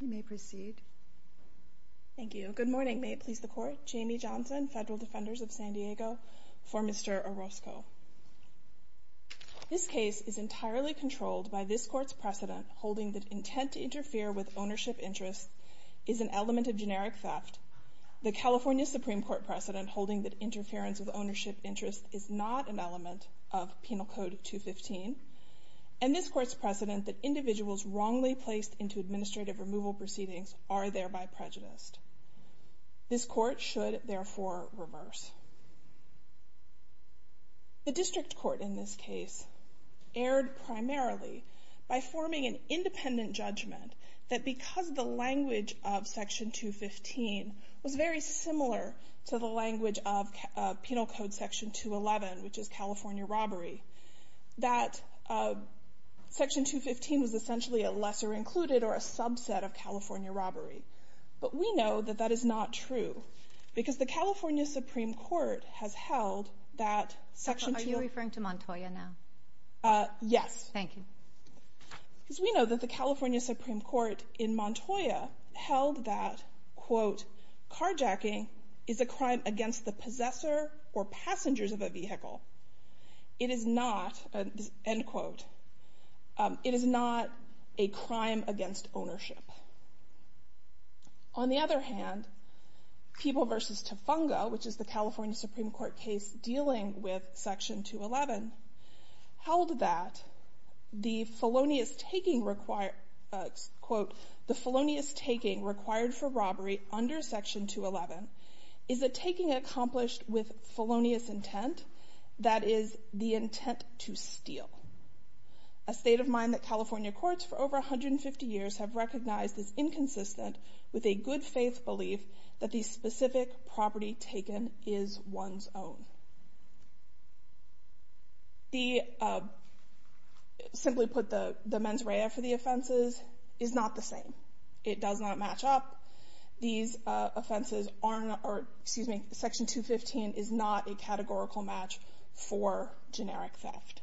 You may proceed. Thank you. Good morning. May it please the Court. Jamie Johnson, Federal Defenders of San Diego, for Mr. Orozco. This case is entirely controlled by this Court's precedent holding that intent to interfere with ownership interests is an element of generic theft, the California Supreme Court precedent holding that interference with ownership interests is not an element of Penal Code 215, and this Court's precedent that individuals wrongly placed into administrative removal proceedings are thereby prejudiced. This Court should, therefore, reverse. The District Court in this case erred primarily by forming an independent judgment that because the language of Section 215 was very similar to the language of Penal Code Section 211, which is California robbery, that Section 215 was essentially a lesser included or a subset of California robbery. But we know that that is not true because the California Supreme Court has held that Section 215... Are you referring to Montoya now? Yes. Thank you. Because we know that the California Supreme Court in Montoya held that, quote, carjacking is a crime against the possessor or passengers of a vehicle. It is not, end quote, it is not a crime against ownership. On the other hand, People v. Tafunga, which is the California Supreme Court case dealing with Section 211, held that the felonious taking required... Quote, the felonious taking required for robbery under Section 211 is a taking accomplished with felonious intent that is the intent to steal. A state of mind that California courts for over 150 years have recognized is inconsistent with a good-faith belief that the specific property taken is one's own. The... Simply put, the mens rea for the offenses is not the same. It does not match up. These offenses aren't... Excuse me, Section 215 is not a categorical match for generic theft.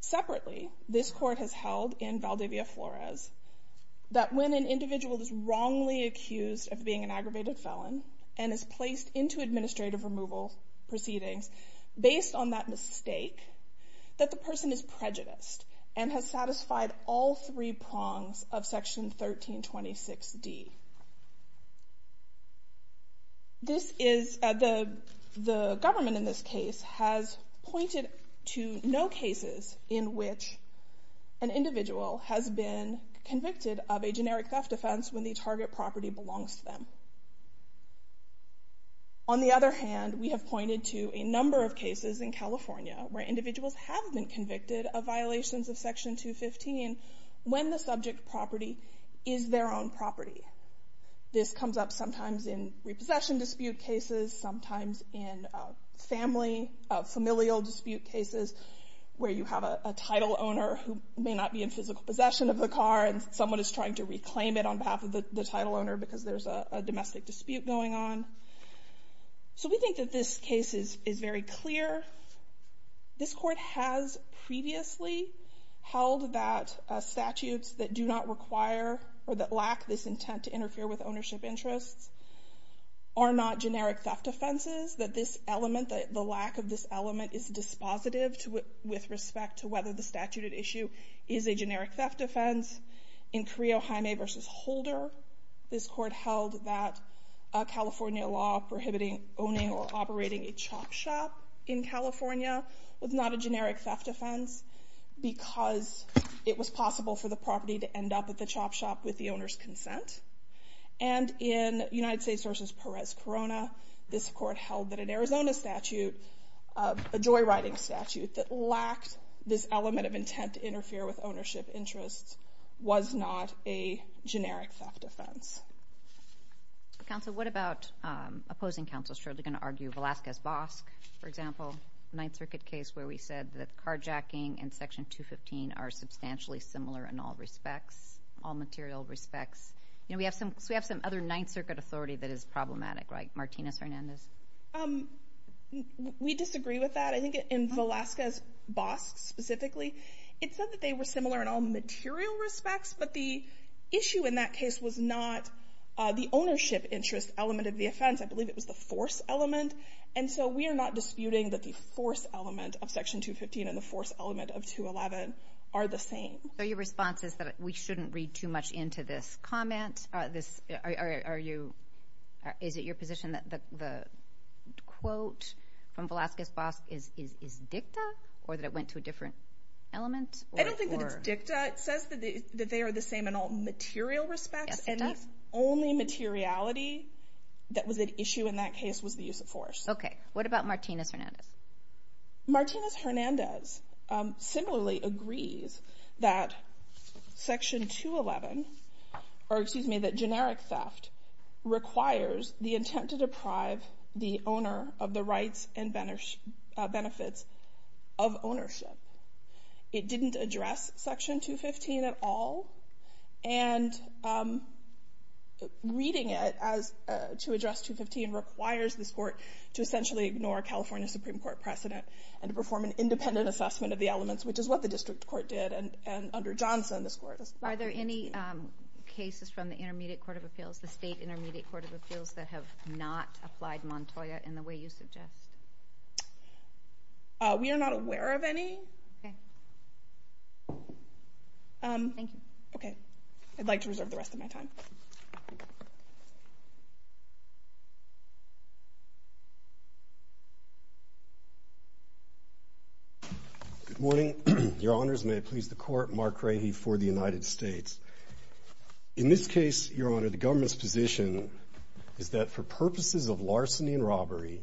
Separately, this court has held in Valdivia Flores that when an individual is wrongly accused of being an aggravated felon and is placed into administrative removal proceedings based on that mistake, that the person is prejudiced and has satisfied all three prongs of Section 1326D. This is... The government in this case has pointed to no cases in which an individual has been convicted of a generic theft offense when the target property belongs to them. On the other hand, we have pointed to a number of cases in California where individuals have been convicted of violations of Section 215 when the subject property is their own property. This comes up sometimes in repossession dispute cases, sometimes in family familial dispute cases where you have a title owner who may not be in physical possession of the car and someone is trying to reclaim it on behalf of the title owner because there's a domestic dispute going on. So we think that this case is very clear. This court has previously held that statutes that do not require or that lack this intent to interfere with ownership interests are not generic theft offenses, that this element, the lack of this element, is dispositive with respect to whether the statute at issue is a generic theft offense. In Carillo-Jaime v. Holder, this court held that California law prohibiting owning or operating a chop shop in California was not a generic theft offense because it was possible for the property to end up at the chop shop with the owner's consent. And in United States v. Perez-Corona, this court held that an Arizona statute, a joyriding statute, that lacked this element of intent to interfere with ownership interests was not a generic theft offense. Counsel, what about opposing counsels who are going to argue Velazquez-Bosk, for example, Ninth Circuit case where we said that carjacking and Section 215 are substantially similar in all respects, all material respects? You know, we have some other Ninth Circuit authority that is problematic, right? Martinez-Hernandez? We disagree with that. I think in Velazquez-Bosk specifically, it said that they were similar in all material respects, but the issue in that case was not the ownership interest element of the offense. I believe it was the force element. And so we are not disputing that the force element of Section 215 and the force element of 211 are the same. So your response is that we shouldn't read too much into this comment? Are you... Is it your position that the quote from Velazquez-Bosk is dicta or that it went to a different element? I don't think that it's dicta. It says that they are the same in all material respects. Yes, it does. And the only materiality that was at issue in that case was the use of force. Okay. What about Martinez-Hernandez? Martinez-Hernandez similarly agrees that Section 211, or excuse me, that generic theft requires the intent to deprive the owner of the rights and benefits of ownership. It didn't address Section 215 at all. And reading it to address 215 requires this court to essentially ignore a California Supreme Court precedent and to perform an independent assessment of the elements, which is what the district court did. And under Johnson, this court... Are there any cases from the Intermediate Court of Appeals, the State Intermediate Court of Appeals, that have not applied Montoya in the way you suggest? We are not aware of any. Okay. Thank you. Okay. I'd like to reserve the rest of my time. Good morning. Your Honors, may it please the Court, Mark Rahe for the United States. In this case, Your Honor, the government's position is that for purposes of larceny and robbery,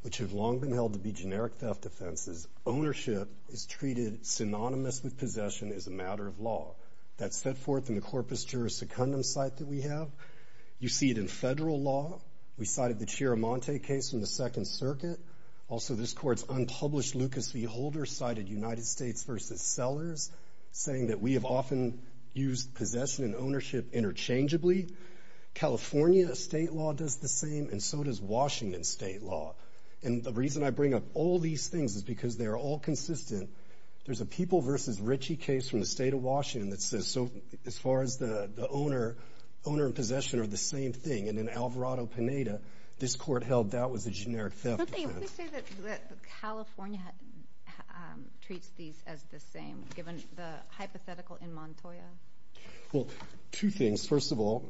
which have long been held to be generic theft offenses, ownership is treated synonymous with possession as a matter of law. That's set forth in the Corpus Juris Secundum site that we have. You see it in federal law. We cited the Chiaramonte case from the Second Circuit. Also, this Court's unpublished Lucas v. Holder cited United States v. Sellers, saying that we have often used possession and ownership interchangeably. California state law does the same, and so does Washington state law. And the reason I bring up all these things is because they are all consistent. There's a People v. Ritchie case from the state of Washington that says so as far as the owner, owner and possession are the same thing. And in Alvarado-Pineda, this Court held that was a generic theft offense. Don't they always say that California treats these as the same, given the hypothetical in Montoya? Well, two things. First of all,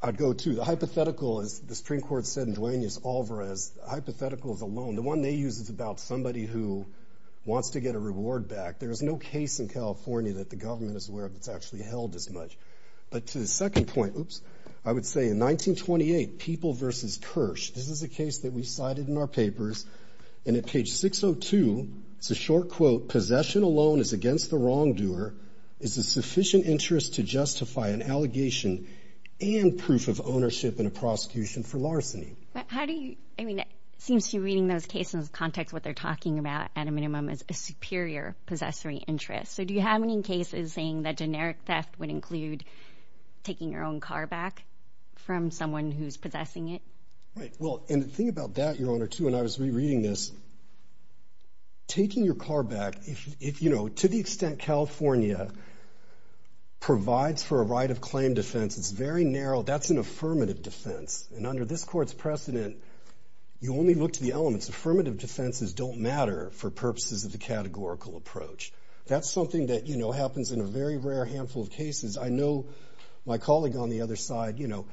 I'd go to the hypothetical as the Supreme Court said in Duaneus Alvarez, the hypothetical is a loan. The one they use is about somebody who wants to get a reward back. There is no case in California that the government is aware of that's actually held as much. But to the second point, I would say in 1928, People v. Kirsch, this is a case that we cited in our papers, and at page 602, it's a short quote, possession alone is against the wrongdoer. It's a sufficient interest to justify an allegation and proof of ownership in a prosecution for larceny. But how do you, I mean, it seems to me reading those cases, the context of what they're talking about at a minimum is a superior possessory interest. So do you have any cases saying that generic theft would include taking your own car back from someone who's possessing it? Right, well, and the thing about that, Your Honor, too, and I was rereading this, taking your car back, if, you know, to the extent California provides for a right of claim defense, it's very narrow. That's an affirmative defense. And under this Court's precedent, you only look to the elements. Affirmative defenses don't matter for purposes of the categorical approach. That's something that, you know, happens in a very rare handful of cases. I know my colleague on the other side, you know,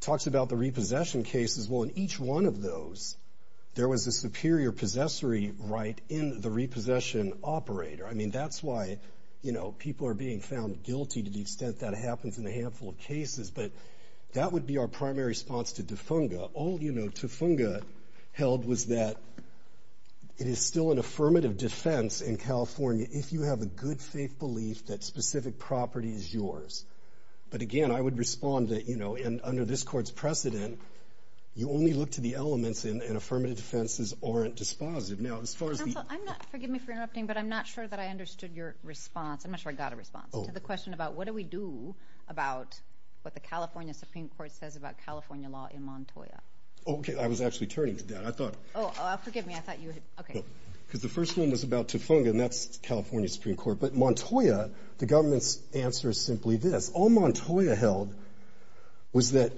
talks about the repossession cases. Well, in each one of those, there was a superior possessory right in the repossession operator. I mean, that's why, you know, people are being found guilty to the extent that happens in a handful of cases. But that would be our primary response to Tufunga. All, you know, Tufunga held was that it is still an affirmative defense in California if you have a good faith belief that specific property is yours. But again, I would respond that, you know, and under this Court's precedent, you only look to the elements, and affirmative defenses aren't dispositive. Now, as far as the... Counsel, forgive me for interrupting, but I'm not sure that I understood your response. I'm not sure I got a response. Oh. To the question about what do we do about what the California Supreme Court says about California law in Montoya. Oh, okay. I was actually turning to that. I thought... Oh, forgive me. I thought you had... Okay. Because the first one was about Tufunga, and that's California Supreme Court. But Montoya, the government's answer is simply this. All Montoya held was that,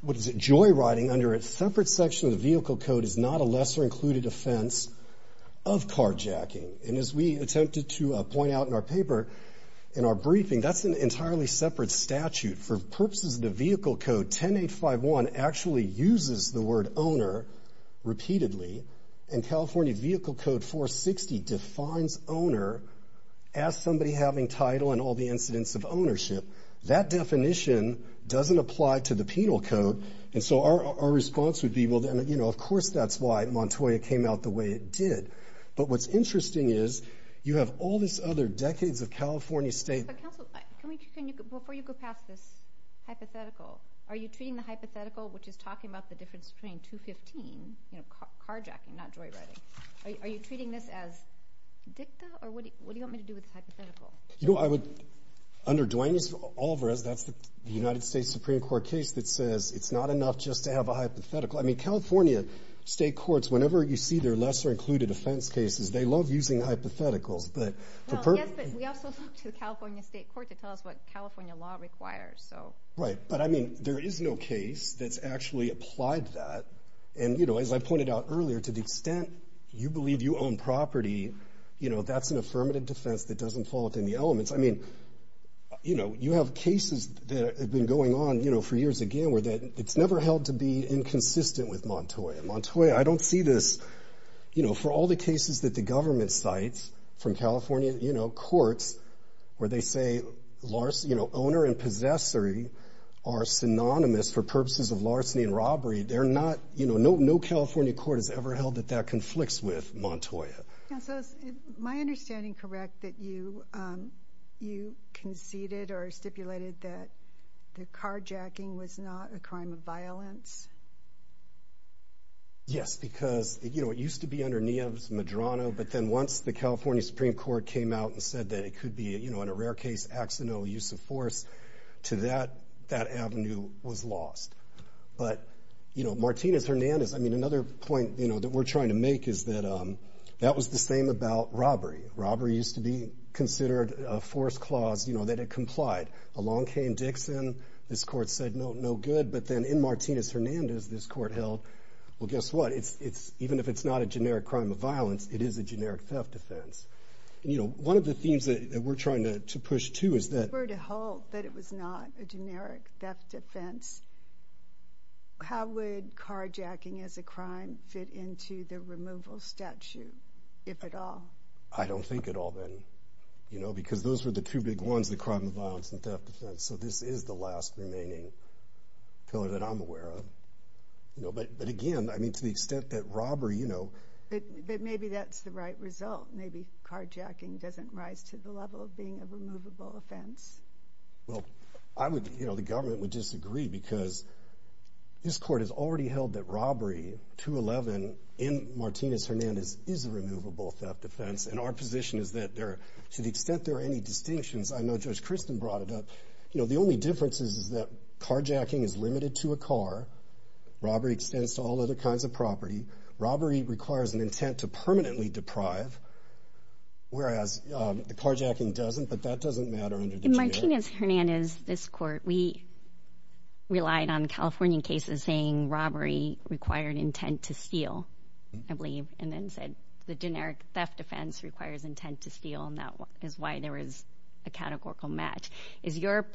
what is it, joyriding under a separate section of the vehicle code is not a lesser-included offense of carjacking. And as we attempted to point out in our paper, in our briefing, that's an entirely separate statute. For purposes of the vehicle code, 10851 actually uses the word owner repeatedly, and California Vehicle Code 460 defines owner as somebody having title and all the incidents of ownership. That definition doesn't apply to the penal code, and so our response would be, well, then, you know, of course that's why Montoya came out the way it did. But what's interesting is, you have all this other decades of California state... But, counsel, can we... Before you go past this hypothetical, are you treating the hypothetical, which is talking about the difference between 215, you know, carjacking, not joyriding, are you treating this as dicta, or what do you want me to do with this hypothetical? You know, I would... Under Duane's, Alvarez, that's the United States Supreme Court case that says it's not enough just to have a hypothetical. I mean, California state courts, whenever you see their lesser-included offense cases, they love using hypotheticals, but... Well, yes, but we also look to the California state court to tell us what California law requires, so... Right, but, I mean, there is no case that's actually applied to that, and, you know, as I pointed out earlier, to the extent you believe you own property, you know, that's an affirmative defense that doesn't fall within the elements. I mean, you know, you have cases that have been going on, you know, for years, again, where it's never held to be inconsistent with Montoya. Montoya, I don't see this... You know, for all the cases that the government cites from California, you know, courts, where they say, you know, owner and possessory are synonymous for purposes of larceny and robbery, they're not... You know, no California court has ever held that that conflicts with Montoya. Counsel, is my understanding correct that the carjacking was not a crime of violence? Yes, because, you know, it used to be under Nieves, Medrano, but then once the California Supreme Court came out and said that it could be, you know, in a rare case, accidental use of force, to that, that avenue was lost. But, you know, Martinez-Hernandez, I mean, another point, you know, that we're trying to make is that that was the same about robbery. Robbery used to be considered a force clause, you know, that it complied. Along came Dixon, this court said, no good, but then in Martinez-Hernandez, this court held, well, guess what? Even if it's not a generic crime of violence, it is a generic theft offense. You know, one of the themes that we're trying to push to is that... If it were to hold that it was not a generic theft offense, how would carjacking as a crime fit into the removal statute, if at all? I don't think at all, then, you know, because those were the two big ones, the crime of violence and theft offense, so this is the last remaining pillar that I'm aware of. You know, but again, I mean, to the extent that robbery, you know... But maybe that's the right result. Maybe carjacking doesn't rise to the level of being a removable offense. Well, I would, you know, the government would disagree because this court has already held that robbery, 211, in Martinez-Hernandez is a removable theft offense, and our position is that there, to the extent there are any distinctions, I know Judge Christin brought it up, you know, the only difference is that carjacking is limited to a car, robbery extends to all other kinds of property, robbery requires an intent to permanently deprive, whereas the carjacking doesn't, but that doesn't matter under the statute. In Martinez-Hernandez, this court, we relied on California cases saying robbery required intent to steal, I believe, and then said the generic theft offense requires intent to steal, and that is why there is a categorical match. Is your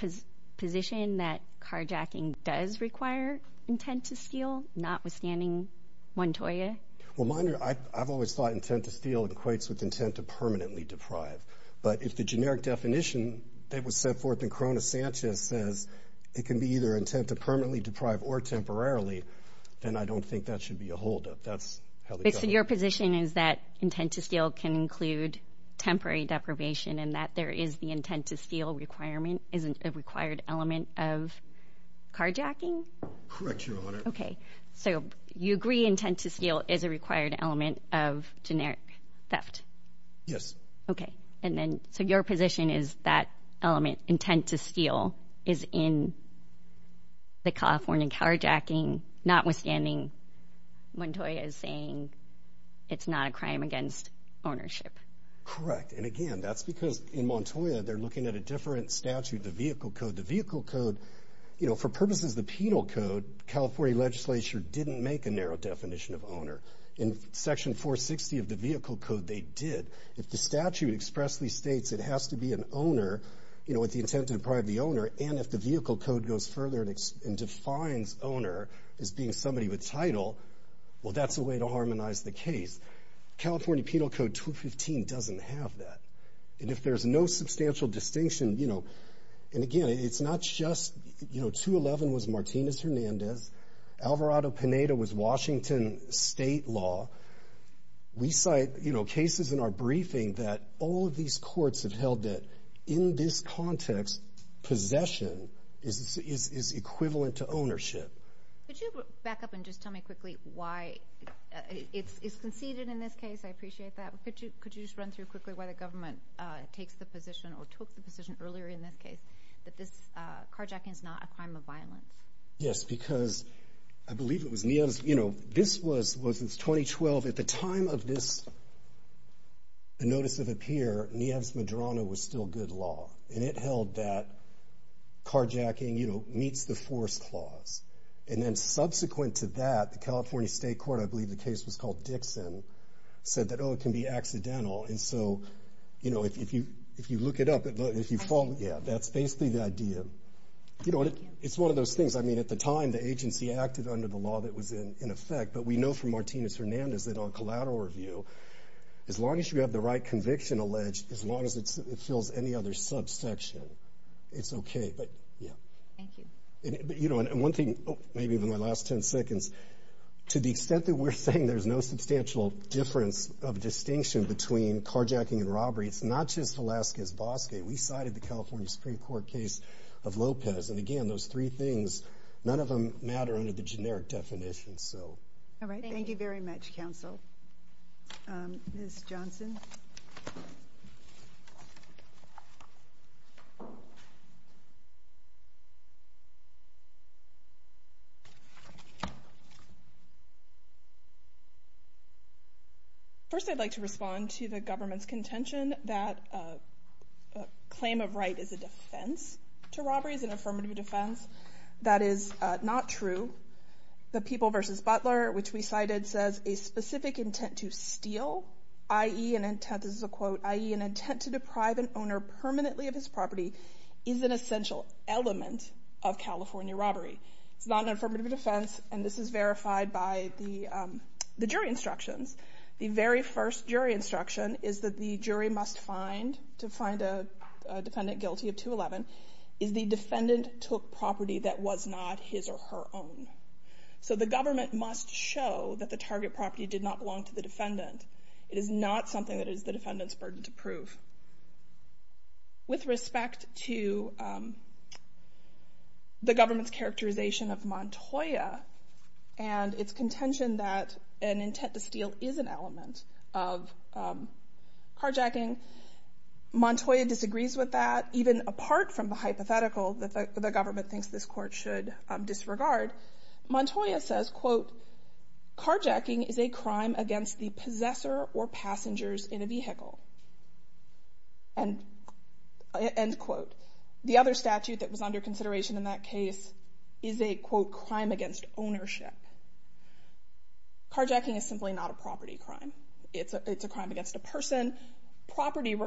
position that carjacking does require intent to steal, notwithstanding Montoya? Well, I've always thought intent to steal equates with intent to permanently deprive, but if the generic definition that was set forth in Corona Sanchez says it can be either intent to permanently deprive or temporarily, then I don't think that should be a holdup. That's how the government... and that there is the intent to steal requirement, isn't a required element of carjacking? Correct, Your Honor. Okay, so you agree intent to steal is a required element of generic theft? Yes. Okay, and then, so your position is that element, intent to steal, is in the California carjacking, notwithstanding Montoya's saying it's not a crime against ownership? Correct, and again, that's because in Montoya, they're looking at a different statute, the Vehicle Code. The Vehicle Code, you know, for purposes of the Penal Code, California legislature didn't make a narrow definition of owner. In Section 460 of the Vehicle Code, they did. If the statute expressly states it has to be an owner, you know, with the intent to deprive the owner, and if the Vehicle Code goes further and defines owner as being somebody with title, well, that's a way to harmonize the case. California Penal Code 215 doesn't have that. And if there's no substantial distinction, you know, and again, it's not just, you know, 211 was Martinez-Hernandez, Alvarado-Pineda was Washington state law. We cite, you know, cases in our briefing that all of these courts have held that in this context, possession is equivalent to ownership. Could you back up and just tell me quickly why it's conceded in this case? I appreciate that. Could you just run through quickly why the government takes the position or took the position earlier in this case that this carjacking is not a crime of violence? Yes, because I believe it was Nieves, you know, this was 2012. At the time of this notice of appear, Nieves-Madrona was still good law, and it held that carjacking, you know, meets the force clause. And then subsequent to that, the California State Court, I believe the case was called Dixon, said that, oh, it can be accidental. And so, you know, if you look it up, if you follow, yeah, that's basically the idea. You know, it's one of those things. I mean, at the time, the agency acted under the law that was in effect, but we know from Martinez-Hernandez that on collateral review, as long as you have the right conviction alleged, as long as it fills any other subsection, it's okay. But, yeah. Thank you. You know, and one thing, maybe in my last 10 seconds, to the extent that we're saying there's no substantial difference of distinction between carjacking and robbery, it's not just Velazquez-Bosque. We cited the California Supreme Court case of Lopez. And, again, those three things, none of them matter under the generic definition. All right. Thank you very much, counsel. Ms. Johnson. First, I'd like to respond to the government's contention that a claim of right is a defense to robberies, an affirmative defense. That is not true. The People v. Butler, which we cited, says a specific intent to steal, i.e., an intent to deprive an owner permanently of his property, is an essential element of California robbery. It's not an affirmative defense, and this is verified by the jury instructions. The very first jury instruction is that the jury must find, to find a defendant guilty of 211, is the defendant took property that was not his or her own. So the government must show that the target property did not belong to the defendant. It is not something that is the defendant's burden to prove. With respect to the government's characterization of Montoya and its contention that an intent to steal is an element of carjacking, Montoya disagrees with that, even apart from the hypothetical that the government thinks this court should disregard. Montoya says, quote, carjacking is a crime against the possessor or passengers in a vehicle. End quote. The other statute that was under consideration in that case is a, quote, crime against ownership. Carjacking is simply not a property crime. It's a crime against a person. Property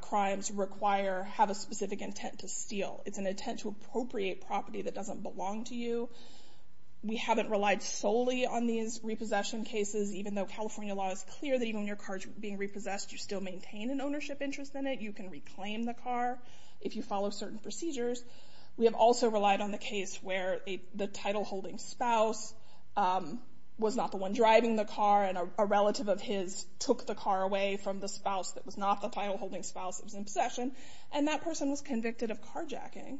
crimes require, have a specific intent to steal. It's an intent to appropriate property that doesn't belong to you. We haven't relied solely on these repossession cases, even though California law is clear that even when your car is being repossessed, you still maintain an ownership interest in it. You can reclaim the car if you follow certain procedures. We have also relied on the case where the title-holding spouse was not the one driving the car, and a relative of his took the car away from the spouse that was not the title-holding spouse that was in possession, and that person was convicted of carjacking.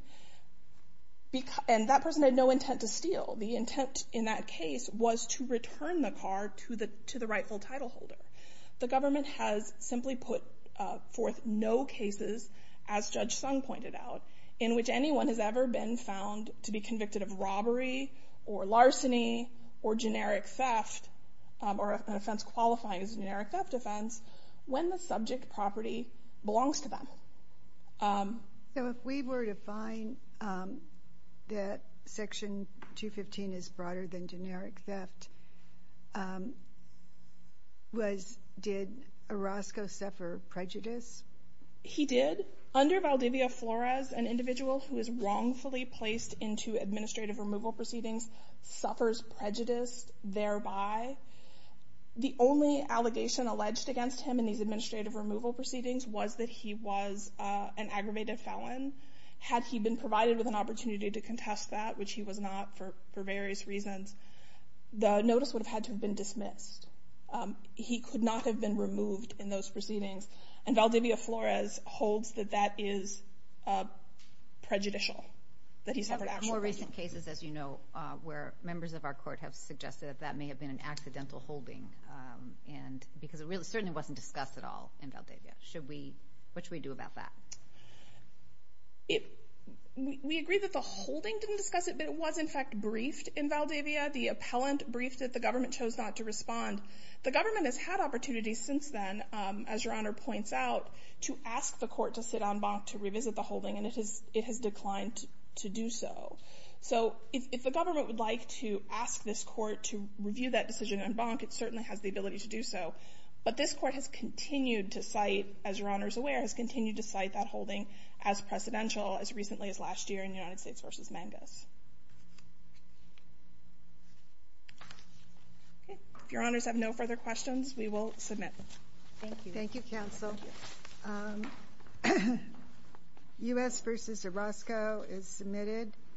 And that person had no intent to steal. The intent in that case was to return the car to the rightful title holder. The government has simply put forth no cases, as Judge Sung pointed out, in which anyone has ever been found to be convicted of robbery or larceny or generic theft or an offense qualifying as a generic theft offense when the subject property belongs to them. So if we were to find that Section 215 is broader than generic theft, did Orozco suffer prejudice? He did. Under Valdivia Flores, an individual who is wrongfully placed into administrative removal proceedings suffers prejudice thereby. The only allegation alleged against him in these administrative removal proceedings was that he was an aggravated felon. Had he been provided with an opportunity to contest that, which he was not for various reasons, the notice would have had to have been dismissed. He could not have been removed in those proceedings. And Valdivia Flores holds that that is prejudicial, that he suffered actual prejudice. We have more recent cases, as you know, where members of our court have suggested that that may have been an accidental holding because it certainly wasn't discussed at all in Valdivia. What should we do about that? We agree that the holding didn't discuss it, but it was, in fact, briefed in Valdivia. The appellant briefed it. The government chose not to respond. The government has had opportunities since then, as Your Honor points out, to ask the court to sit en banc to revisit the holding, and it has declined to do so. So if the government would like to ask this court to review that decision en banc, it certainly has the ability to do so. But this court has continued to cite, as Your Honor is aware, has continued to cite that holding as precedential, as recently as last year in United States v. Mangus. Okay. If Your Honors have no further questions, we will submit. Thank you. Thank you, counsel. U.S. v. Orozco is submitted.